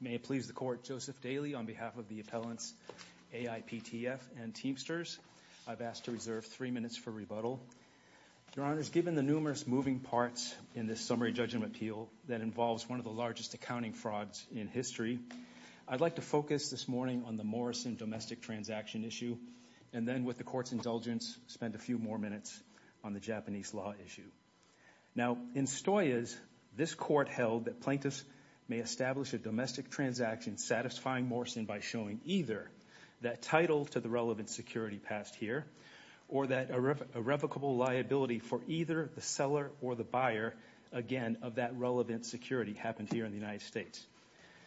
May it please the Court, Joseph Daley on behalf of the appellants AIPTF and Teamsters, I've asked to reserve three minutes for rebuttal. Your Honors, given the numerous moving parts in this Summary Judgment Appeal that involves one of the largest accounting frauds in history, I'd like to focus this morning on the Morrison Domestic Transaction issue and then, with the Court's indulgence, spend a few more minutes on the Japanese Law issue. Now, in Stoyes, this Court held that plaintiffs may establish a domestic transaction satisfying Morrison by showing either that title to the relevant security passed here or that irrevocable liability for either the seller or the buyer, again, of that relevant security happened here in the United States.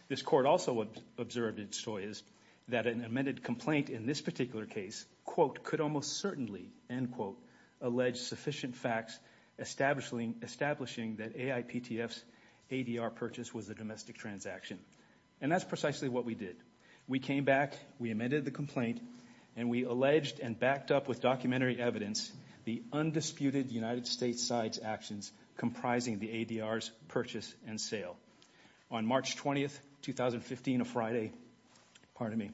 This Court also observed in Stoyes that an amended complaint in this particular case, quote, could almost certainly, end quote, allege sufficient facts establishing that AIPTF's ADR purchase was a domestic transaction. And that's precisely what we did. We came back, we amended the complaint, and we alleged and backed up with documentary evidence the undisputed United States side's actions comprising the ADR's purchase and sale. On March 20th, 2015, a Friday, pardon me,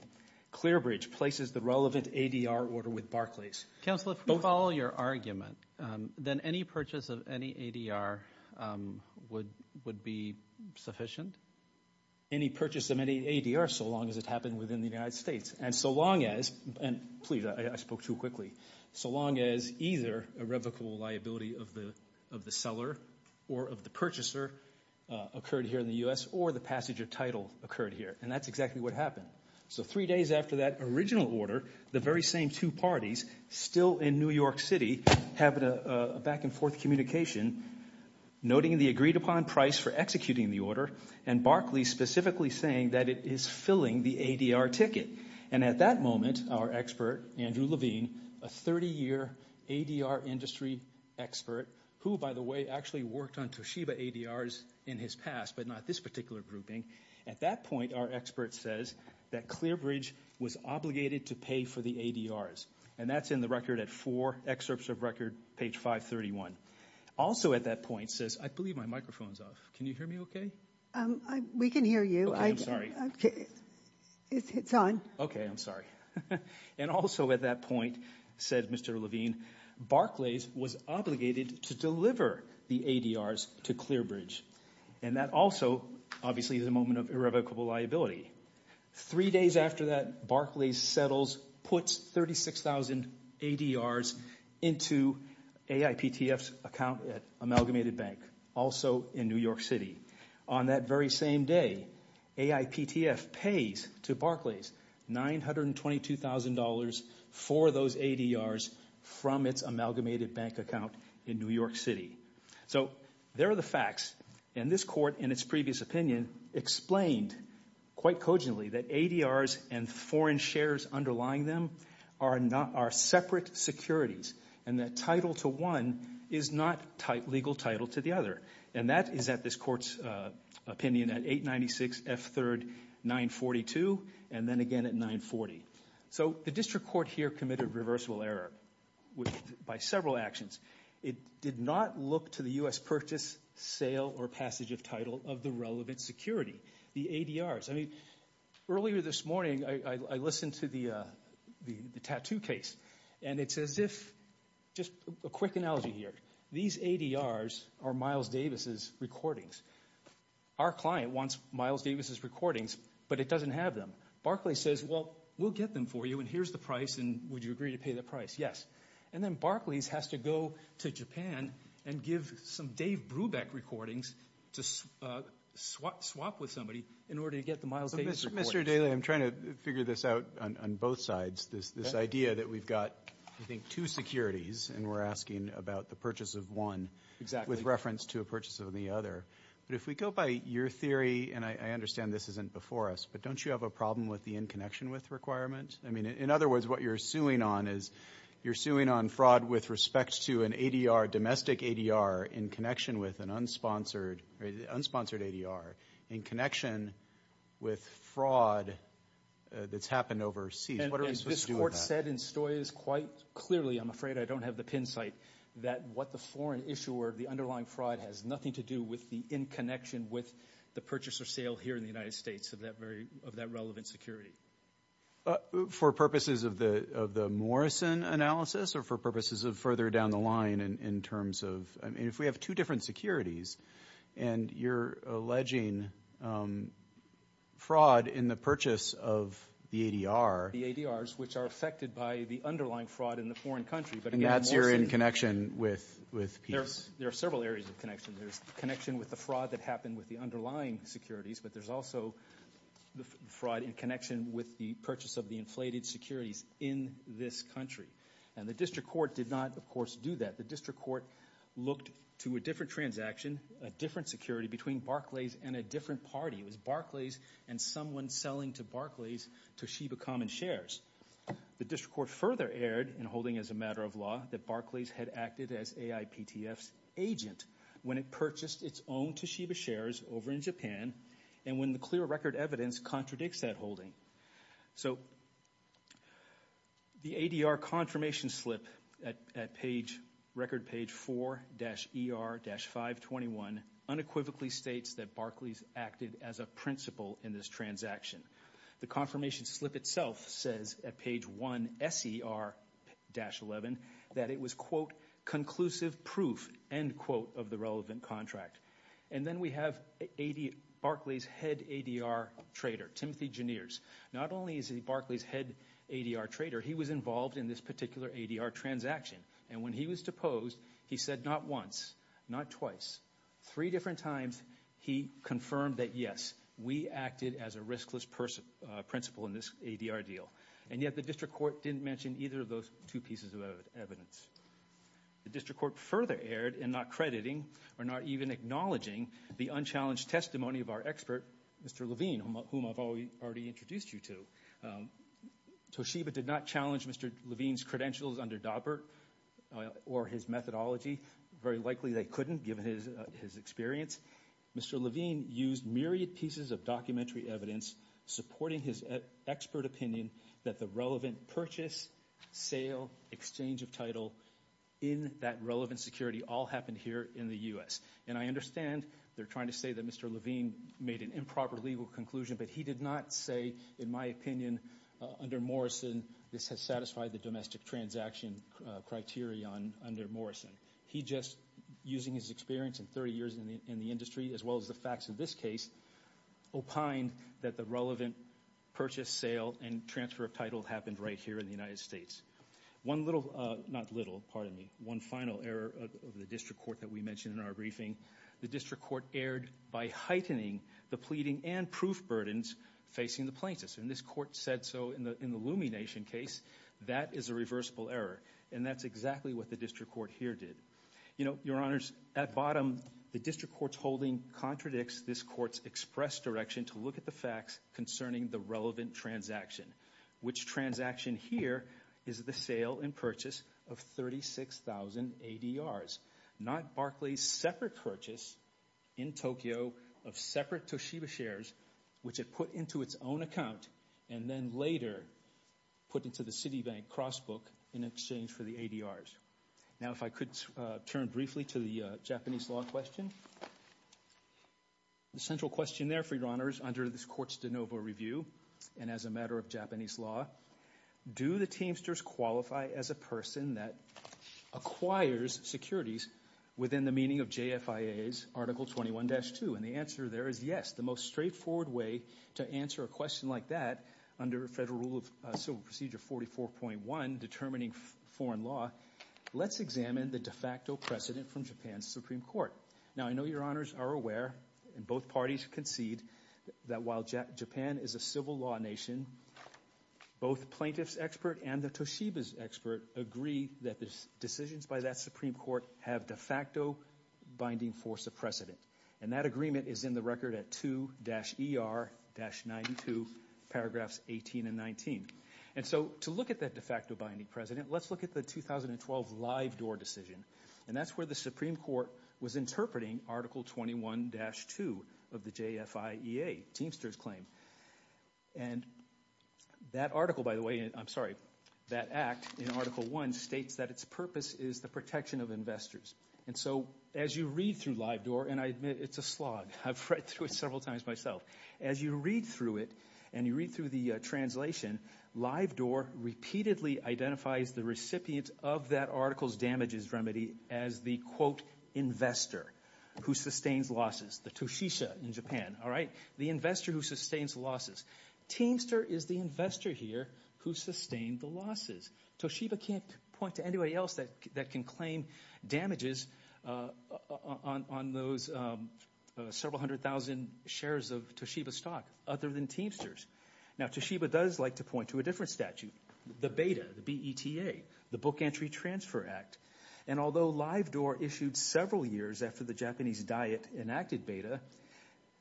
Clearbridge places the relevant ADR order with Barclays. Counselor, if we follow your argument, then any purchase of any ADR would be sufficient? Any purchase of any ADR, so long as it happened within the United States. And so long as, and please, I spoke too quickly, so long as either irrevocable liability of the seller or of the purchaser occurred here in the U.S. or the passenger title occurred here. And that's exactly what happened. So three days after that original order, the very same two parties, still in New York City, having a back and forth communication, noting the agreed upon price for executing the order, and Barclays specifically saying that it is filling the ADR ticket. And at that moment, our expert, Andrew Levine, a 30-year ADR industry expert, who by the way actually worked on Toshiba ADRs in his past, but not this particular grouping, at that point our expert says that Clearbridge was obligated to pay for the ADRs. And that's in the record at four excerpts of record, page 531. Also at that point says, I believe my microphone's off. Can you hear me okay? We can hear you. Okay, I'm sorry. It's on. Okay, I'm sorry. And also at that point, said Mr. Levine, Barclays was obligated to deliver the ADRs to Clearbridge. And that also, obviously, is a moment of irrevocable liability. Three days after that, Barclays settles, puts 36,000 ADRs into AIPTF's account at Amalgamated Bank, also in New York City. On that very same day, AIPTF pays to Barclays $922,000 for those ADRs from its Amalgamated Bank account in New York City. So there are the facts. And this court, in its previous opinion, explained quite cogently that ADRs and foreign shares underlying them are separate securities. And that title to one is not legal title to the other. And that is at this court's opinion at 896 F3rd 942, and then again at 940. So the district court here committed reversible error by several actions. It did not look to the U.S. purchase, sale, or passage of title of the relevant security, the ADRs. I mean, earlier this morning, I listened to the tattoo case. And it's as if, just a quick analogy here, these ADRs are Miles Davis's recordings. Our client wants Miles Davis's recordings, but it doesn't have them. Barclays says, well, we'll get them for you, and here's the price, and would you agree to pay the price? Yes. And then Barclays has to go to Japan and give some Dave Brubeck recordings to swap with somebody in order to get the Miles Davis recordings. Mr. Daley, I'm trying to figure this out on both sides, this idea that we've got, I think, two securities, and we're asking about the purchase of one with reference to a purchase of the other. But if we go by your theory, and I understand this isn't before us, but don't you have a problem with the in connection with requirement? I mean, in other words, what you're suing on is you're suing on fraud with respect to an ADR, domestic ADR, in connection with an unsponsored ADR, in connection with fraud that's happened overseas. What are we supposed to do with that? And this court said in Stoyes quite clearly, I'm afraid I don't have the pin site, that what the foreign issuer, the underlying fraud has nothing to do with the in connection with the purchase or sale here in the United States of that relevant security. For purposes of the Morrison analysis, or for purposes of further down the line in terms of, I mean, if we have two different securities, and you're alleging fraud in the purchase of the ADR. The ADRs, which are affected by the underlying fraud in the foreign country, but again, Morrison. They're in connection with peace. There are several areas of connection. There's connection with the fraud that happened with the underlying securities, but there's also the fraud in connection with the purchase of the inflated securities in this country. And the district court did not, of course, do that. The district court looked to a different transaction, a different security between Barclays and a different party. It was Barclays and someone selling to Barclays, Toshiba Common Shares. The district court further erred in holding as a matter of law that Barclays had acted as AIPTF's agent when it purchased its own Toshiba shares over in Japan, and when the clear record evidence contradicts that holding. So the ADR confirmation slip at page, record page 4-ER-521, unequivocally states that Barclays acted as a principal in this transaction. The confirmation slip itself says at page 1-SER-11 that it was, quote, conclusive proof, end quote, of the relevant contract. And then we have Barclays' head ADR trader, Timothy Jeneers. Not only is he Barclays' head ADR trader, he was involved in this particular ADR transaction. And when he was deposed, he said not once, not twice, three different times he confirmed that, yes, we acted as a riskless principal in this ADR deal. And yet the district court didn't mention either of those two pieces of evidence. The district court further erred in not crediting or not even acknowledging the unchallenged testimony of our expert, Mr. Levine, whom I've already introduced you to. Toshiba did not challenge Mr. Levine's credentials under Daubert or his methodology. Very likely they couldn't given his experience. Mr. Levine used myriad pieces of documentary evidence supporting his expert opinion that the relevant purchase, sale, exchange of title in that relevant security all happened here in the U.S. And I understand they're trying to say that Mr. Levine made an improper legal conclusion, but he did not say, in my opinion, under Morrison, this has satisfied the domestic transaction criteria under Morrison. He just, using his experience and 30 years in the industry as well as the facts of this case, opined that the relevant purchase, sale, and transfer of title happened right here in the United States. One little, not little, pardon me, one final error of the district court that we mentioned in our briefing. The district court erred by heightening the pleading and proof burdens facing the plaintiffs. And this court said so in the Lumie Nation case. That is a reversible error and that's exactly what the district court here did. You know, your honors, at bottom, the district court's holding contradicts this court's express direction to look at the facts concerning the relevant transaction. Which transaction here is the sale and purchase of 36,000 ADRs. Not Barclay's separate purchase in Tokyo of separate Toshiba shares, which it put into its own account and then later put into the Citibank cross book in exchange for the ADRs. Now if I could turn briefly to the Japanese law question. The central question there, your honors, under this court's de novo review, and as a matter of Japanese law, do the Teamsters qualify as a person that acquires securities within the meaning of JFIA's Article 21-2? And the answer there is yes. The most straightforward way to answer a question like that under federal rule of civil procedure 44.1, determining foreign law, let's examine the de facto precedent from Japan's Supreme Court. Now I know your honors are aware, and both parties concede, that while Japan is a civil law nation, both plaintiff's expert and the Toshiba's expert agree that the decisions by that Supreme Court have de facto binding force of precedent. And that agreement is in the record at 2-ER-92, paragraphs 18 and 19. And so to look at that de facto binding precedent, let's look at the 2012 live door decision. And that's where the Supreme Court was interpreting Article 21-2 of the JFIA Teamsters claim. And that article, by the way, I'm sorry, that act in Article 1 states that its purpose is the protection of investors. And so as you read through live door, and I admit it's a slog, I've read through it several times myself. As you read through it, and you read through the translation, live door repeatedly identifies the recipient of that article's damages remedy as the, quote, investor who sustains losses, the Toshisha in Japan, all right? The investor who sustains losses. Teamster is the investor here who sustained the losses. Toshiba can't point to anybody else that can claim damages on those several hundred thousand shares of Teamsters. Now, Toshiba does like to point to a different statute, the BETA, the B-E-T-A, the Book Entry Transfer Act. And although live door issued several years after the Japanese diet enacted BETA,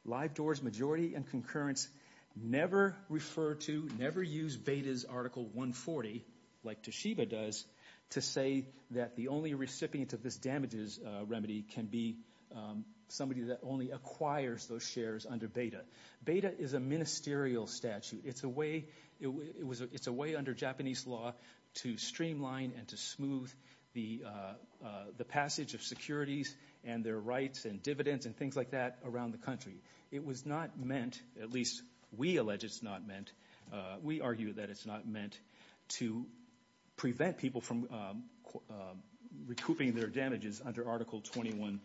live door's majority and concurrence never refer to, never use BETA's Article 140, like Toshiba does, to say that the only recipient of this damages remedy can be somebody that only acquires those shares under BETA. BETA is a ministerial statute. It's a way, it's a way under Japanese law to streamline and to smooth the passage of securities and their rights and dividends and things like that around the country. It was not meant, at least we allege it's not meant, we argue that it's not meant to prevent people from recouping their damages under Article 21-2.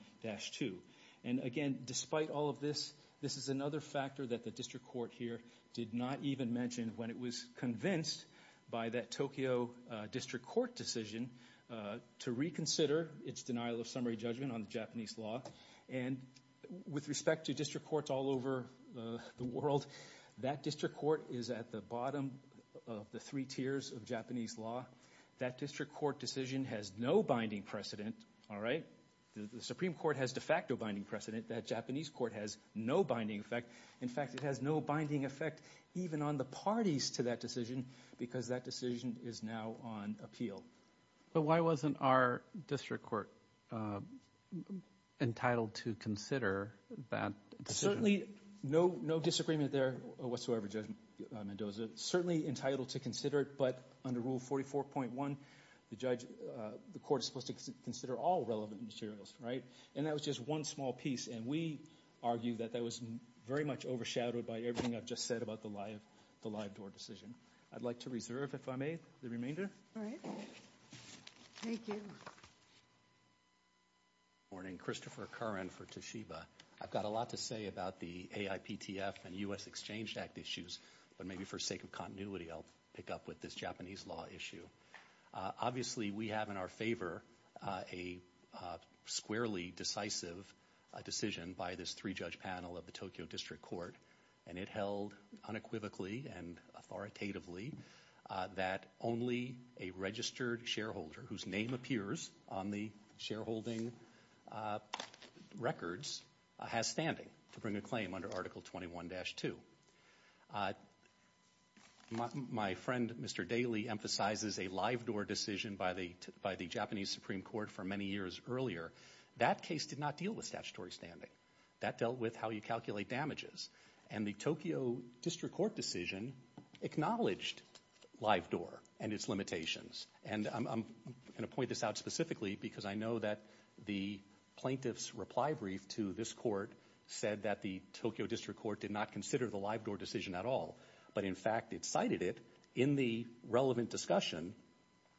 And again, despite all of this, this is another factor that the district court here did not even mention when it was convinced by that Tokyo district court decision to reconsider its denial of summary judgment on the Japanese law. And with respect to district courts all over the world, that district court is at the bottom of the three tiers of Japanese law. That district court decision has no binding precedent, all right? The Supreme Court has de facto binding precedent. That Japanese court has no binding effect. In fact, it has no binding effect even on the parties to that decision because that decision is now on appeal. But why wasn't our district court entitled to consider that decision? Certainly no disagreement there whatsoever, Judge Mendoza. Certainly entitled to consider it, but under Rule 44.1, the court is supposed to consider all relevant materials, right? And that was just one small piece, and we argue that that was very much overshadowed by everything I've just said about the live door decision. I'd like to reserve, if I may, the remainder. All right. Thank you. Good morning. Christopher Curran for Toshiba. I've got a lot to say about the AIPTF and U.S. Exchange Act issues, but maybe for sake of continuity, I'll pick up with this Japanese law issue. Obviously, we have in our favor a squarely decisive decision by this three-judge panel of the Tokyo district court, and it held unequivocally and authoritatively that only a registered shareholder whose name appears on the shareholding records has standing to bring a claim under Article 21-2. My friend, Mr. Daley, emphasizes a live door decision by the Japanese Supreme Court for many years earlier. That case did not deal with statutory standing. That dealt with how you calculate damages. And the Tokyo district court decision acknowledged live door and its limitations. And I'm going to point this out specifically because I know that the plaintiff's reply brief to this court said that the Tokyo district court did not consider the live door decision at all, but in fact, it cited it in the relevant discussion,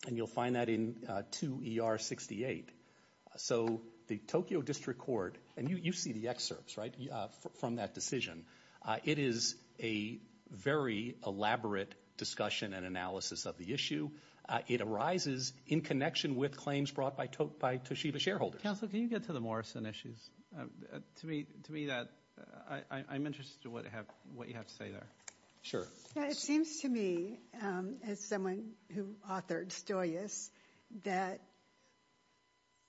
and you'll find that in 2 ER 68. So the Tokyo district court, and you see the excerpts, right, from that decision. It is a very elaborate discussion and analysis of the issue. It arises in connection with claims brought by Toshiba shareholders. Counsel, can you get to the Morrison issues? To me, that, I'm interested in what you have to say there. Sure. It seems to me, as someone who authored Stoius, that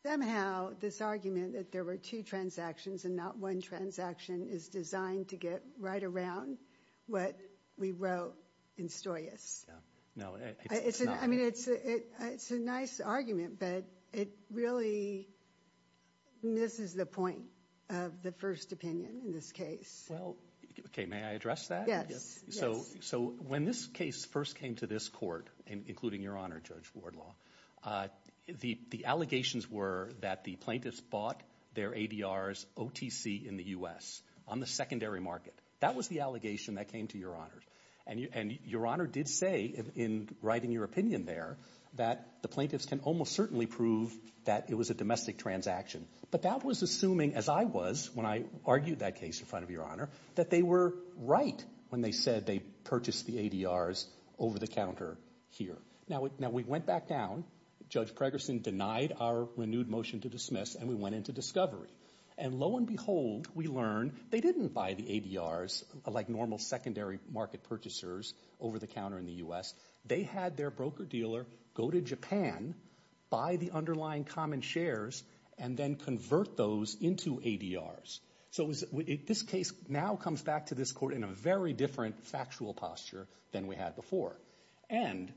somehow this argument that there were two transactions and not one transaction is designed to get right around what we wrote in Stoius. Yeah. I mean, it's a nice argument, but it really misses the point of the first opinion in this case. Well, okay, may I address that? Yes. So when this case first came to this court, including Your Honor, Judge Wardlaw, the allegations were that the plaintiffs bought their ADRs OTC in the U.S. on the secondary market. That was the allegation that came to Your Honor, and Your Honor did say in writing your opinion there that the plaintiffs can almost certainly prove that it was a domestic transaction, but that was assuming, as I was when I argued that case in front of Your Honor, that they were right when they said they purchased the ADRs over-the-counter here. Now we went back down. Judge Pregerson denied our renewed motion to dismiss, and we went into discovery. And lo and behold, we learned they didn't buy the ADRs like normal secondary market purchasers over-the-counter in the U.S. They had their broker-dealer go to Japan, buy the underlying common shares, and then convert those into ADRs. So this case now comes back to this court in a very different factual posture than we had before. And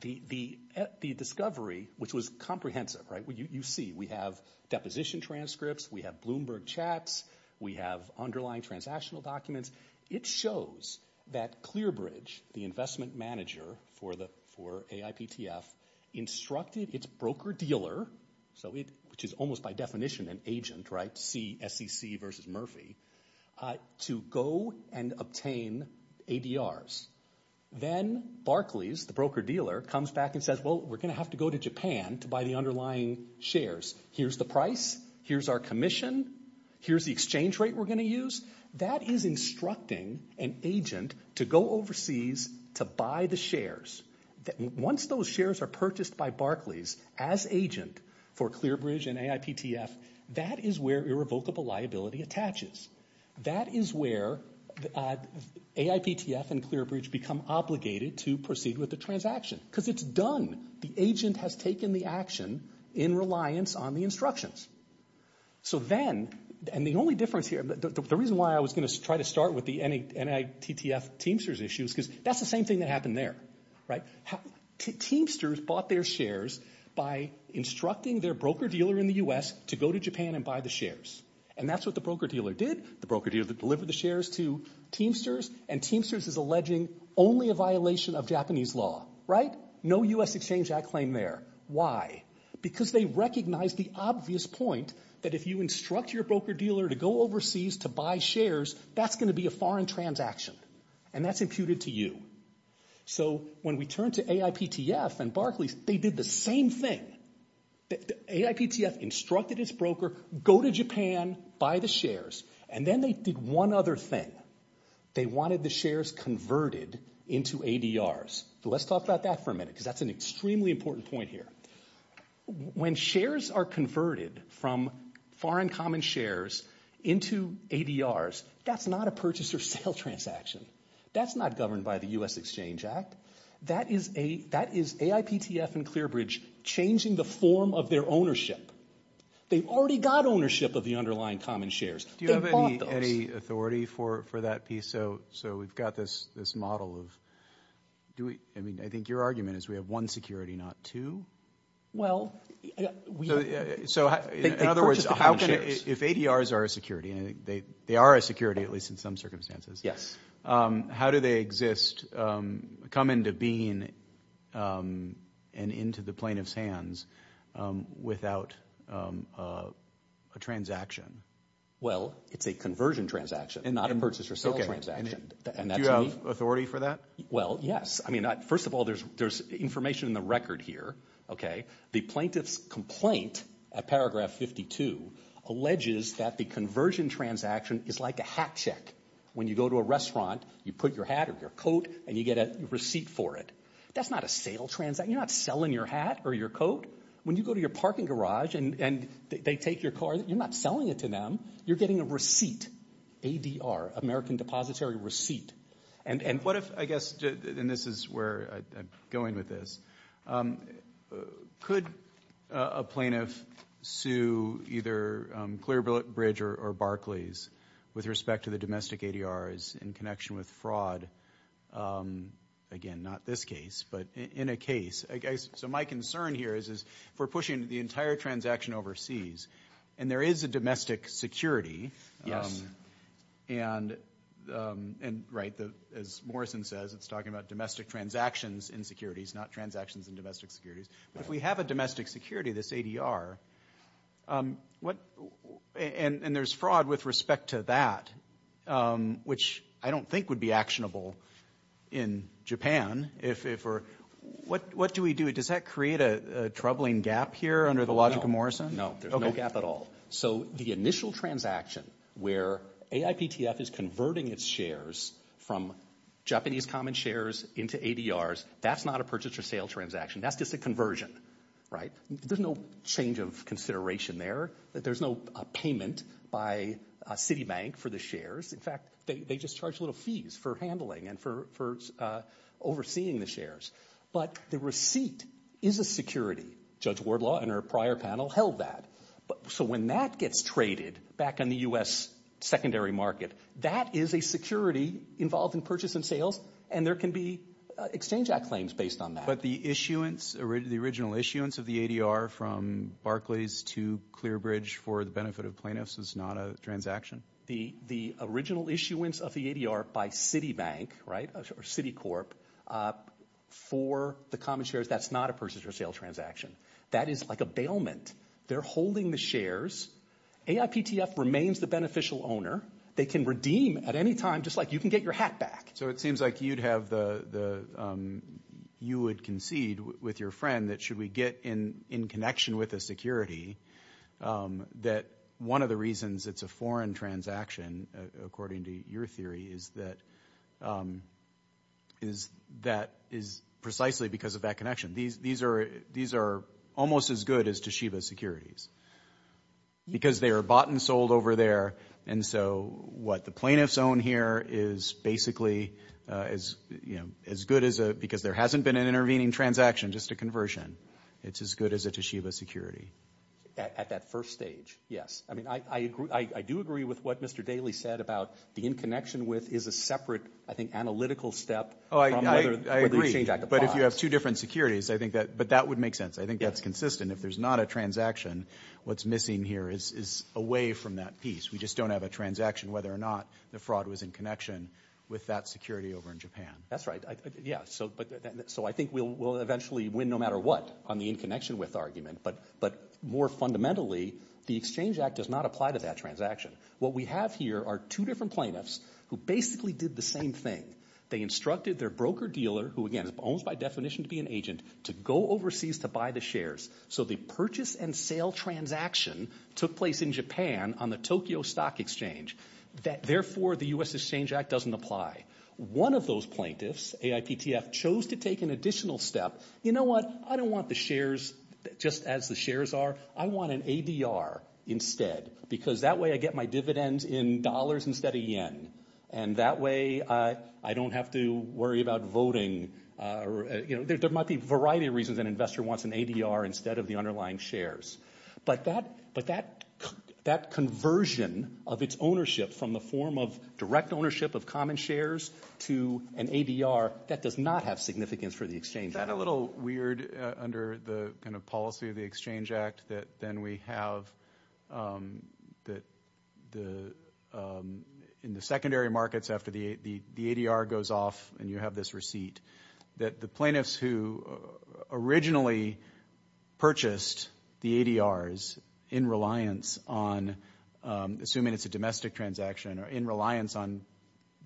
the discovery, which was comprehensive, you see, we have deposition transcripts, we have Bloomberg chats, we have underlying transactional documents. It shows that Clearbridge, the investment manager for AIPTF, instructed its broker-dealer, which is almost by definition an agent, right, SEC versus Murphy, to go and obtain ADRs. Then Barclays, the broker-dealer, comes back and says, well, we're going to have to go to Japan to buy the underlying shares. Here's the price. Here's our commission. Here's the exchange rate we're going to use. That is instructing an agent to go overseas to buy the shares. Once those shares are purchased by Barclays as agent for Clearbridge and AIPTF, that is where irrevocable liability attaches. That is where AIPTF and Clearbridge become obligated to proceed with the transaction because it's done. The agent has taken the action in reliance on the instructions. So then, and the only difference here, the reason why I was going to try to start with the NITTF Teamsters issue is because that's the same thing that happened there, right? Teamsters bought their shares by instructing their broker-dealer in the U.S. to go to Japan and buy the shares, and that's what the broker-dealer did. The broker-dealer delivered the shares to Teamsters, and Teamsters is alleging only a violation of Japanese law, right? No U.S. Exchange Act claim there. Why? Because they recognized the obvious point that if you instruct your broker-dealer to go overseas to buy shares, that's going to be a foreign transaction, and that's imputed to you. So when we turn to AIPTF and Barclays, they did the same thing. AIPTF instructed its broker, go to Japan, buy the shares, and then they did one other thing. They wanted the shares converted into ADRs. Let's talk about that for a minute because that's an extremely important point here. When shares are converted from foreign common shares into ADRs, that's not a purchase or sale transaction. That's not governed by the U.S. Exchange Act. That is AIPTF and ClearBridge changing the form of their ownership. They've already got ownership of the underlying common shares. They bought those. Do you have any authority for that piece? So we've got this model of, I mean, I think your argument is we have one security, not two? Well, they purchased the common shares. So in other words, if ADRs are a security, and they are a security at least in some circumstances, how do they exist, come into being, and into the plaintiff's hands without a transaction? Well, it's a conversion transaction and not a purchase or sale transaction. And do you have authority for that? Well, yes. I mean, first of all, there's information in the record here, okay? The plaintiff's complaint at paragraph 52 alleges that the conversion transaction is like a hat check. When you go to a restaurant, you put your hat or your coat, and you get a receipt for it. That's not a sale transaction. You're not selling your hat or your coat. When you go to your parking garage and they take your car, you're not selling it to them. You're getting a receipt, ADR, American Depository Receipt. And what if, I guess, and this is where I'm going with this, could a plaintiff sue either Clearbridge or Barclays with respect to the domestic ADRs in connection with fraud? Again, not this case, but in a case. So my concern here is if we're pushing the entire transaction overseas, and there is a domestic security, and right, as Morrison says, it's talking about domestic transactions in securities, not transactions in domestic securities. But if we have a domestic security, this ADR, and there's fraud with respect to that, which I don't think would be actionable in Japan, what do we do? Does that create a troubling gap here under the logic of Morrison? No, there's no gap at all. So the initial transaction where AIPTF is converting its shares from Japanese common shares into ADRs, that's not a purchase or sale transaction. That's just a conversion, right? There's no change of consideration there. There's no payment by Citibank for the shares. In fact, they just charge little fees for handling and for overseeing the shares. But the receipt is a security. Judge Wardlaw and her prior panel held that. So when that gets traded back on the U.S. secondary market, that is a security involved in purchase and sales, and there can be Exchange Act claims based on that. But the issuance, the original issuance of the ADR from Barclays to Clearbridge for the benefit of plaintiffs is not a transaction? The original issuance of the ADR by Citibank, right, or Citicorp, for the common shares, that's not a purchase or sale transaction. That is like a bailment. They're holding the shares. AIPTF remains the beneficial owner. They can redeem at any time, just like you can get your hat back. So it seems like you'd have the, you would concede with your friend that should we get in connection with a security, that one of the reasons it's a foreign transaction, according to your theory, is that, is that is precisely because of that connection. These are almost as good as Toshiba securities, because they are bought and sold over there, and so what the plaintiffs own here is basically as good as a, because there hasn't been an intervening transaction, just a conversion, it's as good as a Toshiba security. At that first stage, yes. I mean, I do agree with what Mr. Daley said about the in connection with is a separate, I think, analytical step from whether the Exchange Act applies. But if you have two different securities, I think that, but that would make sense. I think that's consistent. If there's not a transaction, what's missing here is away from that piece. We just don't have a transaction, whether or not the fraud was in connection with that security over in Japan. That's right. Yeah. So, but, so I think we'll, we'll eventually win no matter what on the in connection with argument, but, but more fundamentally, the Exchange Act does not apply to that transaction. What we have here are two different plaintiffs who basically did the same thing. They instructed their broker dealer, who again, is almost by definition to be an agent, to go overseas to buy the shares. So, the purchase and sale transaction took place in Japan on the Tokyo Stock Exchange. That, therefore, the U.S. Exchange Act doesn't apply. One of those plaintiffs, AIPTF, chose to take an additional step. You know what, I don't want the shares just as the shares are. I want an ADR instead, because that way I get my dividends in dollars instead of yen. And that way, I don't have to worry about voting, you know, there might be a variety of reasons an investor wants an ADR instead of the underlying shares. But that, but that, that conversion of its ownership from the form of direct ownership of common shares to an ADR, that does not have significance for the Exchange Act. Isn't that a little weird under the kind of policy of the Exchange Act that then we have, that the, in the secondary markets after the ADR goes off and you have this receipt, that the plaintiffs who originally purchased the ADRs in reliance on, assuming it's a domestic transaction, or in reliance on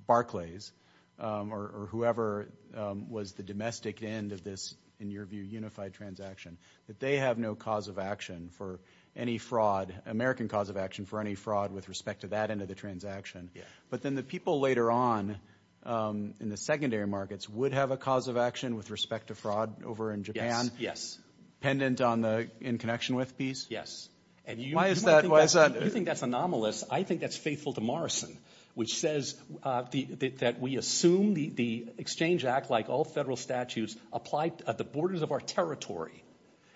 Barclays, or whoever was the domestic end of this, in your view, unified transaction, that they have no cause of action for any fraud, American cause of action for any fraud with respect to that end of the transaction. But then the people later on in the secondary markets would have a cause of action with respect to fraud over in Japan? Yes. Pendant on the in connection with piece? Yes. And you think that's anomalous. I think that's faithful to Morrison, which says that we assume the Exchange Act, like all federal statutes, applied at the borders of our territory.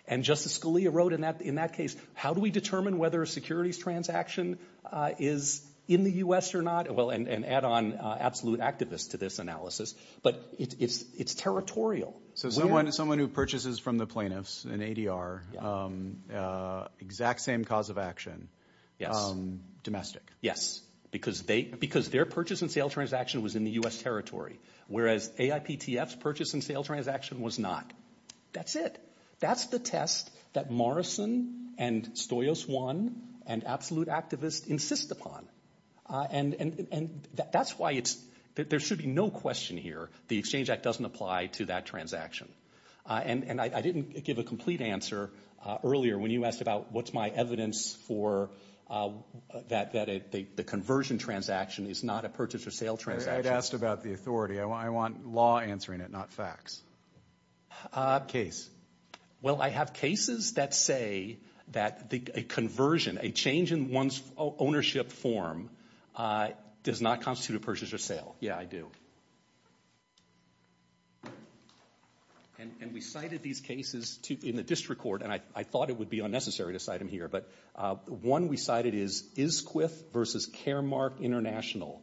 And Justice Scalia wrote in that in that case, how do we determine whether a securities transaction is in the U.S. or not? Well, and add on absolute activists to this analysis. But it's territorial. So someone who purchases from the plaintiffs an ADR, exact same cause of action, domestic? Yes, because their purchase and sale transaction was in the U.S. purchase and sale transaction was not. That's it. That's the test that Morrison and Stoyos one and absolute activists insist upon. And that's why it's that there should be no question here. The Exchange Act doesn't apply to that transaction. And I didn't give a complete answer earlier when you asked about what's my evidence for that, that the conversion transaction is not a purchase or sale transaction. I'd asked about the authority. I want law answering it, not facts. Case? Well, I have cases that say that a conversion, a change in one's ownership form does not constitute a purchase or sale. Yeah, I do. And we cited these cases in the district court, and I thought it would be unnecessary to cite them here, but one we cited is Isquith versus Caremark International,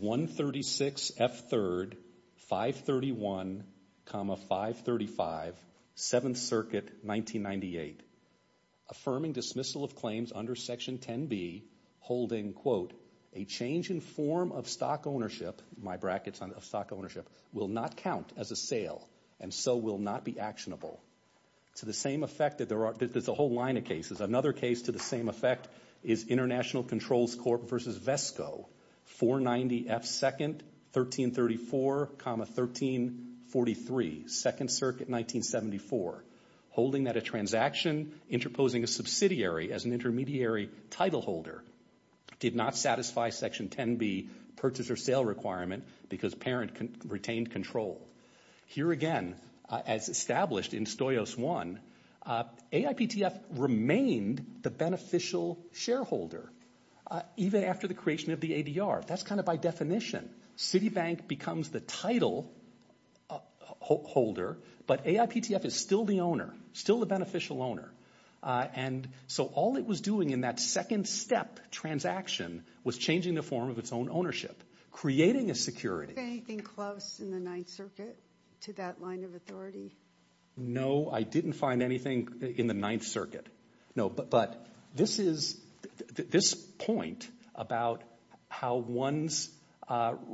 136 F. 3rd, 531, 535, 7th Circuit, 1998, affirming dismissal of claims under Section 10B, holding, quote, a change in form of stock ownership, my brackets on stock ownership, will not count as a sale and so will not be actionable. To the same effect that there are, there's a whole line of cases. Another case to the same effect is International Controls Court versus Vesco, 490 F. 2nd, 1334, 1343, 2nd Circuit, 1974, holding that a transaction interposing a subsidiary as an intermediary title holder did not satisfy Section 10B purchase or sale requirement because parent retained control. Here again, as established in Stoyos 1, AIPTF remained the beneficial shareholder even after the creation of the ADR. That's kind of by definition. Citibank becomes the title holder, but AIPTF is still the owner, still the beneficial owner. And so all it was doing in that second step transaction was changing the form of its own ownership, creating a security. Did you find anything close in the Ninth Circuit to that line of authority? No, I didn't find anything in the Ninth Circuit. No, but this is, this point about how one's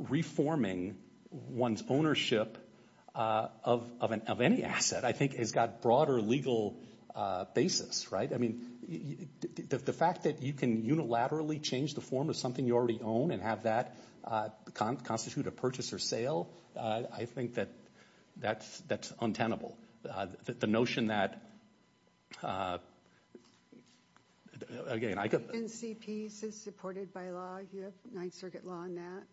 reforming one's ownership of any asset I think has got broader legal basis, right? I mean, the fact that you can unilaterally change the form of something you already own and have that constitute a purchase or sale, I think that that's untenable. The notion that, again, I could. The NCP is supported by law, you have Ninth Circuit law on that.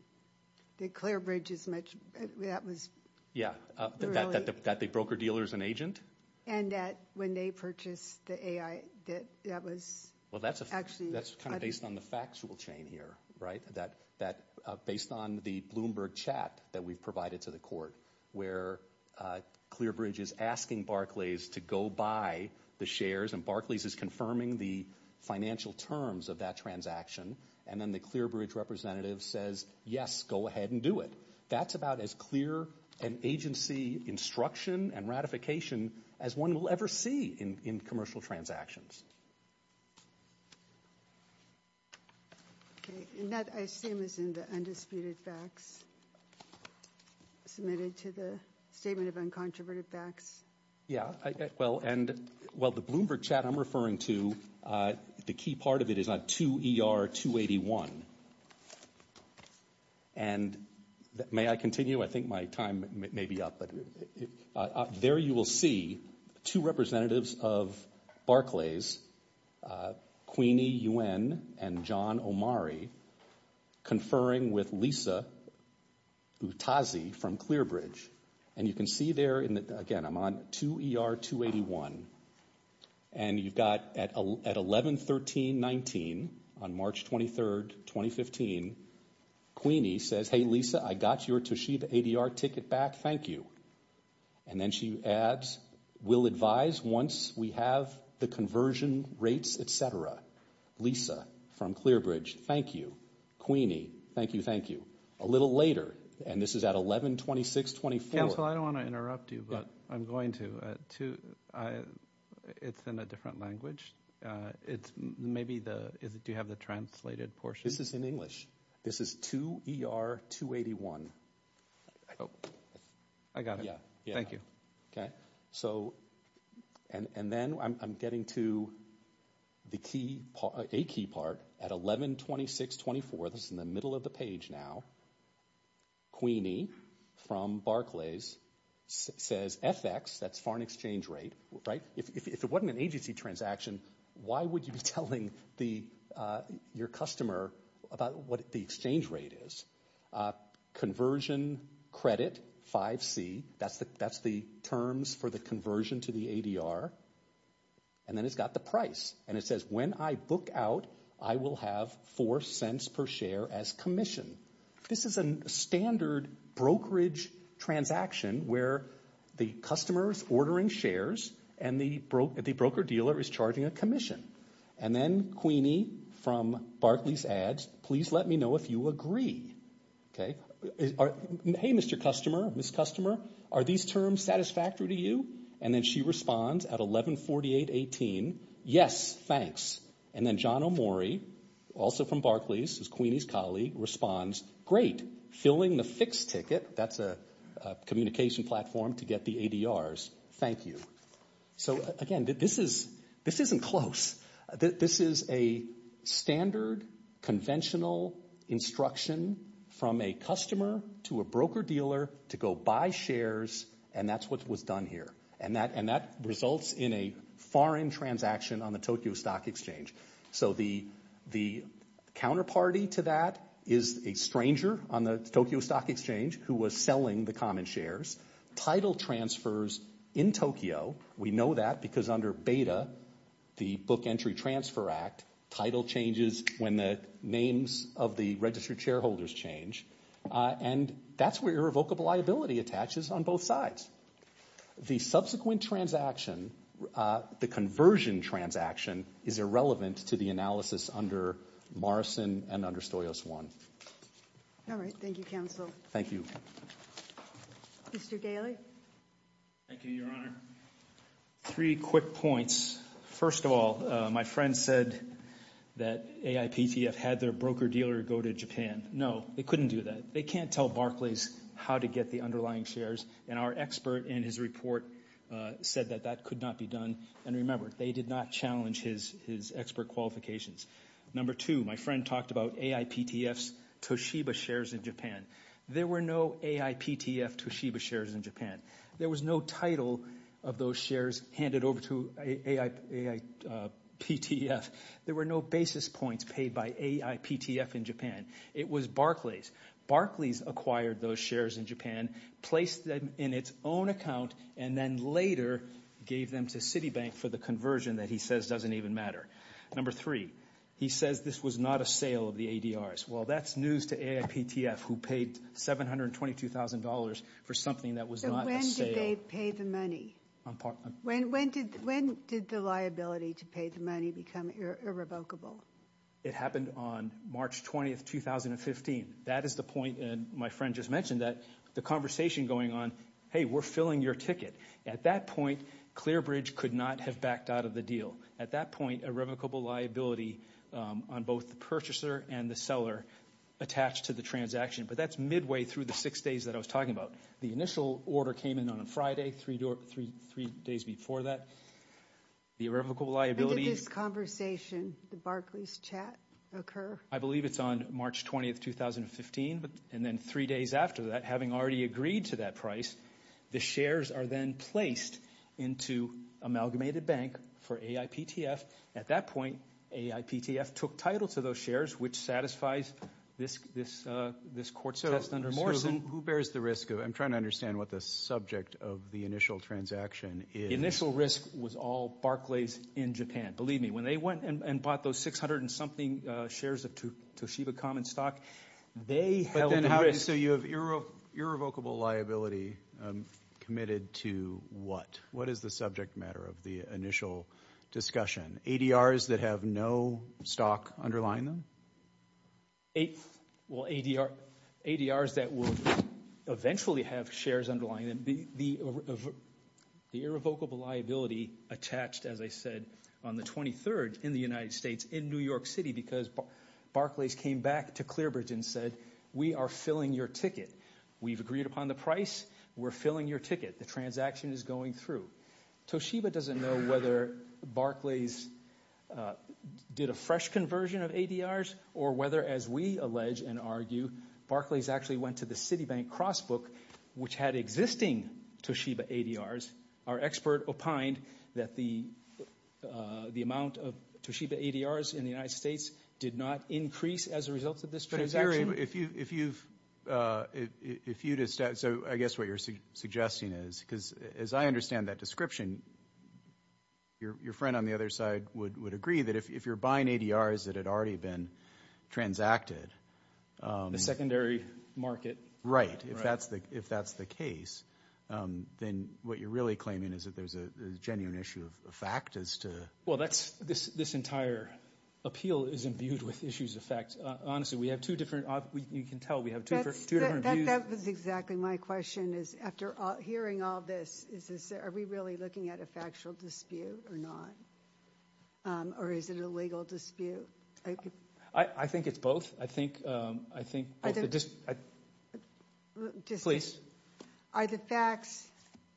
The Clearbridge is much, that was. Yeah, that the broker dealer is an agent. And that when they purchased the AI, that that was actually. That's kind of based on the factual chain here, right? That based on the Bloomberg chat that we've provided to the court where Clearbridge is asking Barclays to go buy the shares and Barclays is confirming the financial terms of that transaction. And then the Clearbridge representative says, yes, go ahead and do it. That's about as clear an agency instruction and ratification as one will ever see in commercial transactions. OK, and that I assume is in the undisputed facts submitted to the statement of uncontroverted facts. Yeah, well, and well, the Bloomberg chat I'm referring to, the key part of it is not 2 ER 281. And may I continue? I think my time may be up, but there you will see two representatives of Barclays, Queenie Yuen and John Omari, conferring with Lisa Utazi from Clearbridge. And you can see there, again, I'm on 2 ER 281. And you've got at 11, 13, 19 on March 23rd, 2015, Queenie says, hey, Lisa, I got your Toshiba ADR ticket back. Thank you. And then she adds, we'll advise once we have the conversion rates, et cetera. Lisa from Clearbridge, thank you. Queenie, thank you. Thank you. A little later. And this is at 11, 26, 24. Council, I don't want to interrupt you, but I'm going to. It's in a different language. It's maybe the, do you have the translated portion? This is in English. This is 2 ER 281. Oh, I got it. Yeah. Thank you. Okay. So, and then I'm getting to the key, a key part at 11, 26, 24. This is in the middle of the page now. Queenie from Barclays says, FX, that's foreign exchange rate, right? If it wasn't an agency transaction, why would you be telling your customer about what the exchange rate is? Conversion credit, 5C, that's the terms for the conversion to the ADR. And then it's got the price. And it says, when I book out, I will have 4 cents per share as commission. This is a standard brokerage transaction where the customer's ordering shares and the broker dealer is charging a commission. And then Queenie from Barclays adds, please let me know if you agree. Okay. Hey, Mr. Customer, Ms. Customer, are these terms satisfactory to you? And then she responds at 11, 48, 18, yes, thanks. And then John Omori, also from Barclays, is Queenie's colleague, responds, great. Filling the fixed ticket, that's a communication platform to get the ADRs. Thank you. So, again, this is, this isn't close. This is a standard conventional instruction from a customer to a broker dealer to go buy shares and that's what was done here. And that results in a foreign transaction on the Tokyo Stock Exchange. So the counterparty to that is a stranger on the Tokyo Stock Exchange who was selling the common shares. Title transfers in Tokyo, we know that because under BETA, the Book Entry Transfer Act, title changes when the names of the registered shareholders change. And that's where irrevocable liability attaches on both sides. The subsequent transaction, the conversion transaction, is irrelevant to the analysis under Morrison and under Stoyos One. All right, thank you, counsel. Thank you. Mr. Daly. Thank you, Your Honor. Three quick points. First of all, my friend said that AIPTF had their broker dealer go to Japan. No, they couldn't do that. They can't tell Barclays how to get the underlying shares and our expert in his report said that that could not be done and remember, they did not challenge his expert qualifications. Number two, my friend talked about AIPTF's Toshiba shares in Japan. There were no AIPTF Toshiba shares in Japan. There was no title of those shares handed over to AIPTF. There were no basis points paid by AIPTF in Japan. It was Barclays. Barclays acquired those shares in Japan, placed them in its own account, and then later gave them to Citibank for the conversion that he says doesn't even matter. Number three, he says this was not a sale of the ADRs. Well, that's news to AIPTF who paid $722,000 for something that was not a sale. So when did they pay the money? When did the liability to pay the money become irrevocable? It happened on March 20th, 2015. That is the point, and my friend just mentioned that, the conversation going on, hey, we're filling your ticket. At that point, Clearbridge could not have backed out of the deal. At that point, irrevocable liability on both the purchaser and the seller attached to the transaction. But that's midway through the six days that I was talking about. The initial order came in on a Friday, three days before that. The irrevocable liability. When did this conversation, the Barclays chat, occur? I believe it's on March 20th, 2015, and then three days after that, having already agreed to that price, the shares are then placed into Amalgamated Bank for AIPTF. At that point, AIPTF took title to those shares, which satisfies this court test under Morrison. Who bears the risk? I'm trying to understand what the subject of the initial transaction is. Initial risk was all Barclays in Japan. Believe me, when they went and bought those 600 and something shares of Toshiba Common Stock, they held the risk. Okay, so you have irrevocable liability committed to what? What is the subject matter of the initial discussion? ADRs that have no stock underlying them? ADRs that will eventually have shares underlying them. The irrevocable liability attached, as I said, on the 23rd in the United States, in New York City, because Barclays came back to Clearbridge and said, we are filling your ticket. We've agreed upon the price. We're filling your ticket. The transaction is going through. Toshiba doesn't know whether Barclays did a fresh conversion of ADRs, or whether, as we allege and argue, Barclays actually went to the Citibank Crossbook, which had existing Toshiba ADRs. Our expert opined that the amount of Toshiba ADRs in the United States did not increase as a result of this transaction. If you've, if you, so I guess what you're suggesting is, because as I understand that description, your friend on the other side would agree that if you're buying ADRs that had already been transacted. The secondary market. Right, if that's the case, then what you're really claiming is that there's a genuine issue of fact as to. Well, that's, this entire appeal is imbued with issues of fact. Honestly, we have two different, you can tell we have two different views. That was exactly my question, is after hearing all this, is this, are we really looking at a factual dispute or not? Or is it a legal dispute? I think it's both. I think, I think both. I think. Just. Are the facts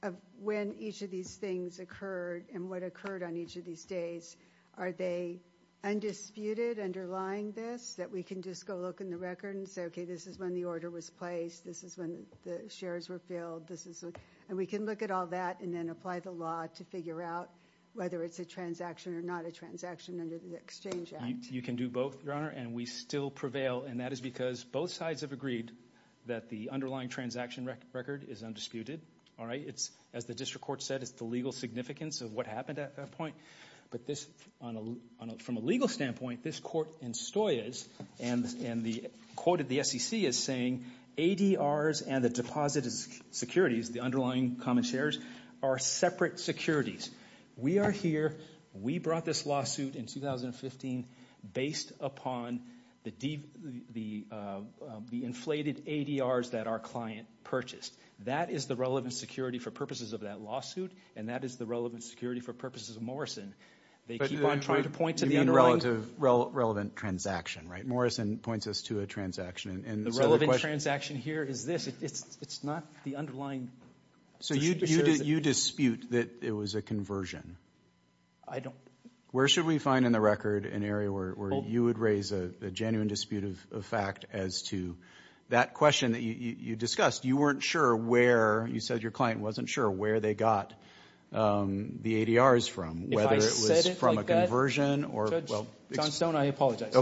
of when each of these things occurred and what occurred on each of these days, are they undisputed underlying this that we can just go look in the record and say, okay, this is when the order was placed. This is when the shares were filled. This is, and we can look at all that and then apply the law to figure out whether it's a transaction or not a transaction under the exchange act. You can do both, your honor, and we still prevail. And that is because both sides have agreed that the underlying transaction record is undisputed. All right, it's, as the district court said, it's the legal significance of what happened at that point, but this, on a, on a, from a legal standpoint, this court in Stoyes, and, and the, quoted the SEC as saying, ADRs and the deposited securities, the underlying common shares, are separate securities. We are here, we brought this lawsuit in 2015 based upon the def, the, the inflated ADRs that our client purchased. That is the relevant security for purposes of that lawsuit, and that is the relevant security for purposes of Morrison. They keep on trying to point to the underlying. You mean relative, relevant transaction, right? Morrison points us to a transaction, and so the question. The relevant transaction here is this. It's, it's, it's not the underlying. So you, you, you dispute that it was a conversion. I don't. Where should we find in the record an area where, where you would raise a, a genuine dispute of, of fact as to that question that you, you, you discussed? You weren't sure where, you said your client wasn't sure where they got the ADRs from. Whether it was from a conversion or. If I said it like that, Judge Johnstone, I apologize.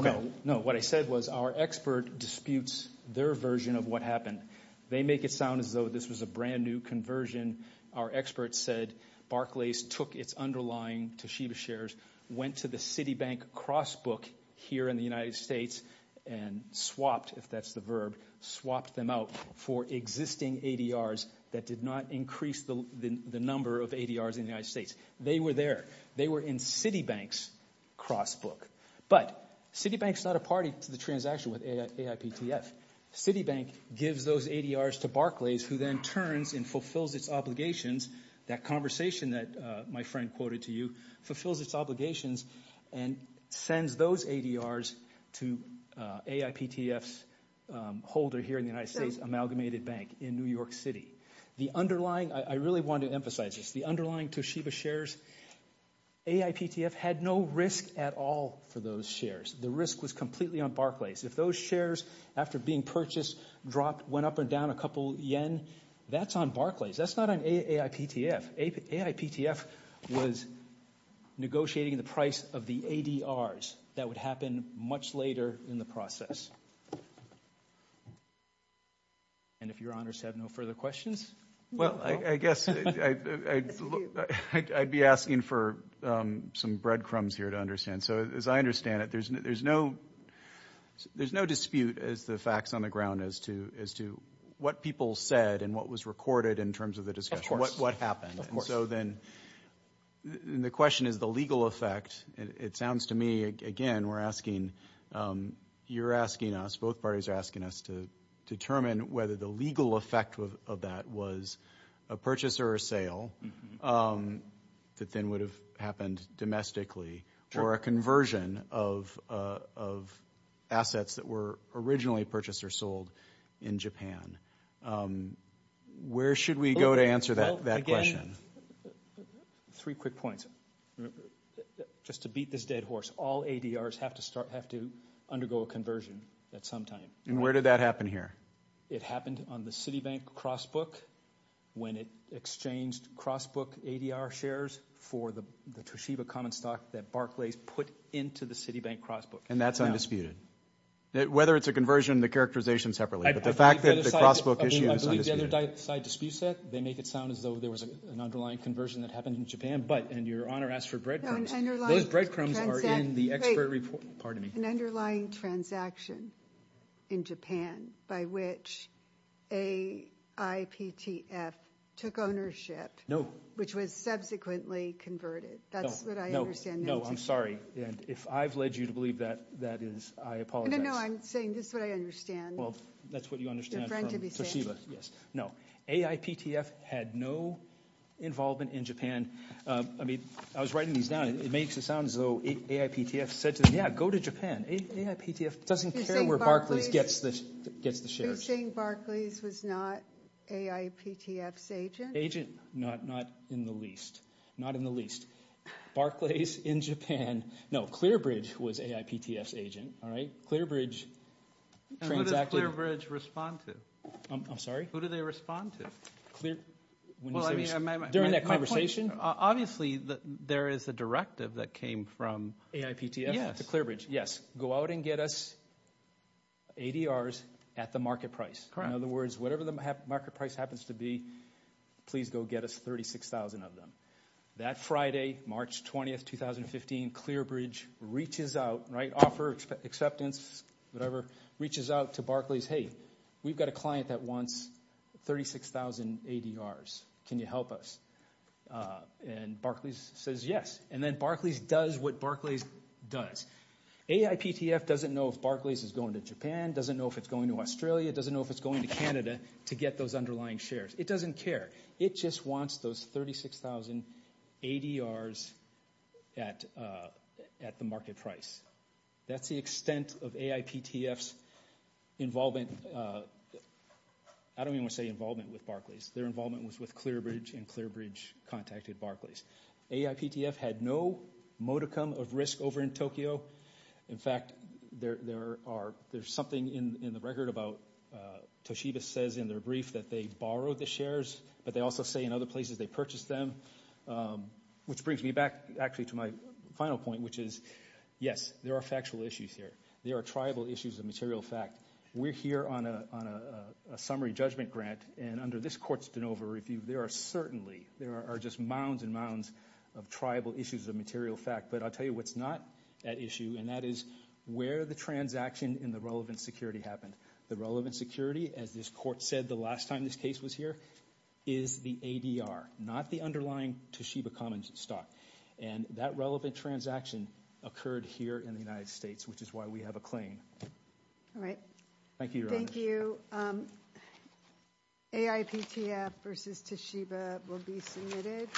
No, what I said was our expert disputes their version of what happened. They make it sound as though this was a brand new conversion. Our experts said Barclays took its underlying Toshiba shares, went to the Citibank cross book here in the United States, and swapped, if that's the verb, swapped them out for existing ADRs that did not increase the, the, the number of ADRs in the United States. They were there. They were in Citibank's cross book. But Citibank's not a party to the transaction with AI, AIPTF. Citibank gives those ADRs to Barclays who then turns and fulfills its obligations. That conversation that my friend quoted to you fulfills its obligations and sends those ADRs to AIPTF's holder here in the United States, Amalgamated Bank in New York City. The underlying, I, I really want to emphasize this. The underlying Toshiba shares, AIPTF had no risk at all for those shares. The risk was completely on Barclays. If those shares, after being purchased, dropped, went up and down a couple yen, that's on Barclays. That's not on AI, AIPTF. AIPTF was negotiating the price of the ADRs. That would happen much later in the process. And if your honors have no further questions. Well, I, I guess, I, I, I'd be asking for some breadcrumbs here to understand. So, as I understand it, there's no, there's no, there's no dispute as the facts on the ground as to, as to what people said and what was recorded in terms of the discussion, what, what happened. And so then the question is the legal effect. It sounds to me, again, we're asking, you're asking us, both parties are asking us to determine whether the legal effect of, of that was a purchase or a sale that then would have happened domestically. Or a conversion of, of assets that were originally purchased or sold in Japan. Where should we go to answer that, that question? Well, again, three quick points. Just to beat this dead horse, all ADRs have to start, have to undergo a conversion at some time. And where did that happen here? It happened on the Citibank cross book when it exchanged cross book ADR shares for the, the Toshiba common stock that Barclays put into the Citibank cross book. And that's undisputed. Whether it's a conversion, the characterization separately. But the fact that the cross book issue is undisputed. I mean, I believe the other side disputes that. They make it sound as though there was an underlying conversion that happened in Japan. But, and your Honor asked for bread crumbs. No, an underlying. Those bread crumbs are in the expert report. Pardon me. An underlying transaction in Japan by which a IPTF took ownership. No. Which was subsequently converted. That's what I understand. No, no, no, I'm sorry. And if I've led you to believe that, that is, I apologize. No, no, no, I'm saying this is what I understand. Well, that's what you understand from Toshiba. No, AIPTF had no involvement in Japan. I mean, I was writing these down. It makes it sound as though AIPTF said to them, yeah, go to Japan. AIPTF doesn't care where Barclays gets the, gets the shares. Are you saying Barclays was not AIPTF's agent? Agent, not, not in the least. Not in the least. Barclays in Japan. No, Clearbridge was AIPTF's agent, all right? Clearbridge transacted. And who did Clearbridge respond to? I'm sorry? Who did they respond to? Clear, when you say, during that conversation? Obviously, there is a directive that came from AIPTF. Yes. To Clearbridge, yes. Go out and get us ADRs at the market price. Correct. In other words, whatever the market price happens to be, please go get us 36,000 of them. That Friday, March 20th, 2015, Clearbridge reaches out, right? For acceptance, whatever, reaches out to Barclays. Hey, we've got a client that wants 36,000 ADRs. Can you help us? And Barclays says yes. And then Barclays does what Barclays does. AIPTF doesn't know if Barclays is going to Japan, doesn't know if it's going to Australia, doesn't know if it's going to Canada to get those underlying shares. It doesn't care. It just wants those 36,000 ADRs at, at the market price. That's the extent of AIPTF's involvement. I don't even want to say involvement with Barclays. Their involvement was with Clearbridge, and Clearbridge contacted Barclays. AIPTF had no modicum of risk over in Tokyo. In fact, there, there are, there's something in, in the record about, Toshiba says in their brief that they borrowed the shares, but they also say in other places they purchased them, which brings me back actually to my final point, which is, yes, there are factual issues here. There are tribal issues of material fact. We're here on a, on a summary judgment grant, and under this court's de novo review, there are certainly, there are just mounds and mounds of tribal issues of material fact. But I'll tell you what's not at issue, and that is where the transaction in the relevant security happened. The relevant security, as this court said the last time this case was here, is the ADR, not the underlying Toshiba Commons stock. And that relevant transaction occurred here in the United States, which is why we have a claim. All right. Thank you, Your Honor. AIPTF versus Toshiba will be submitted.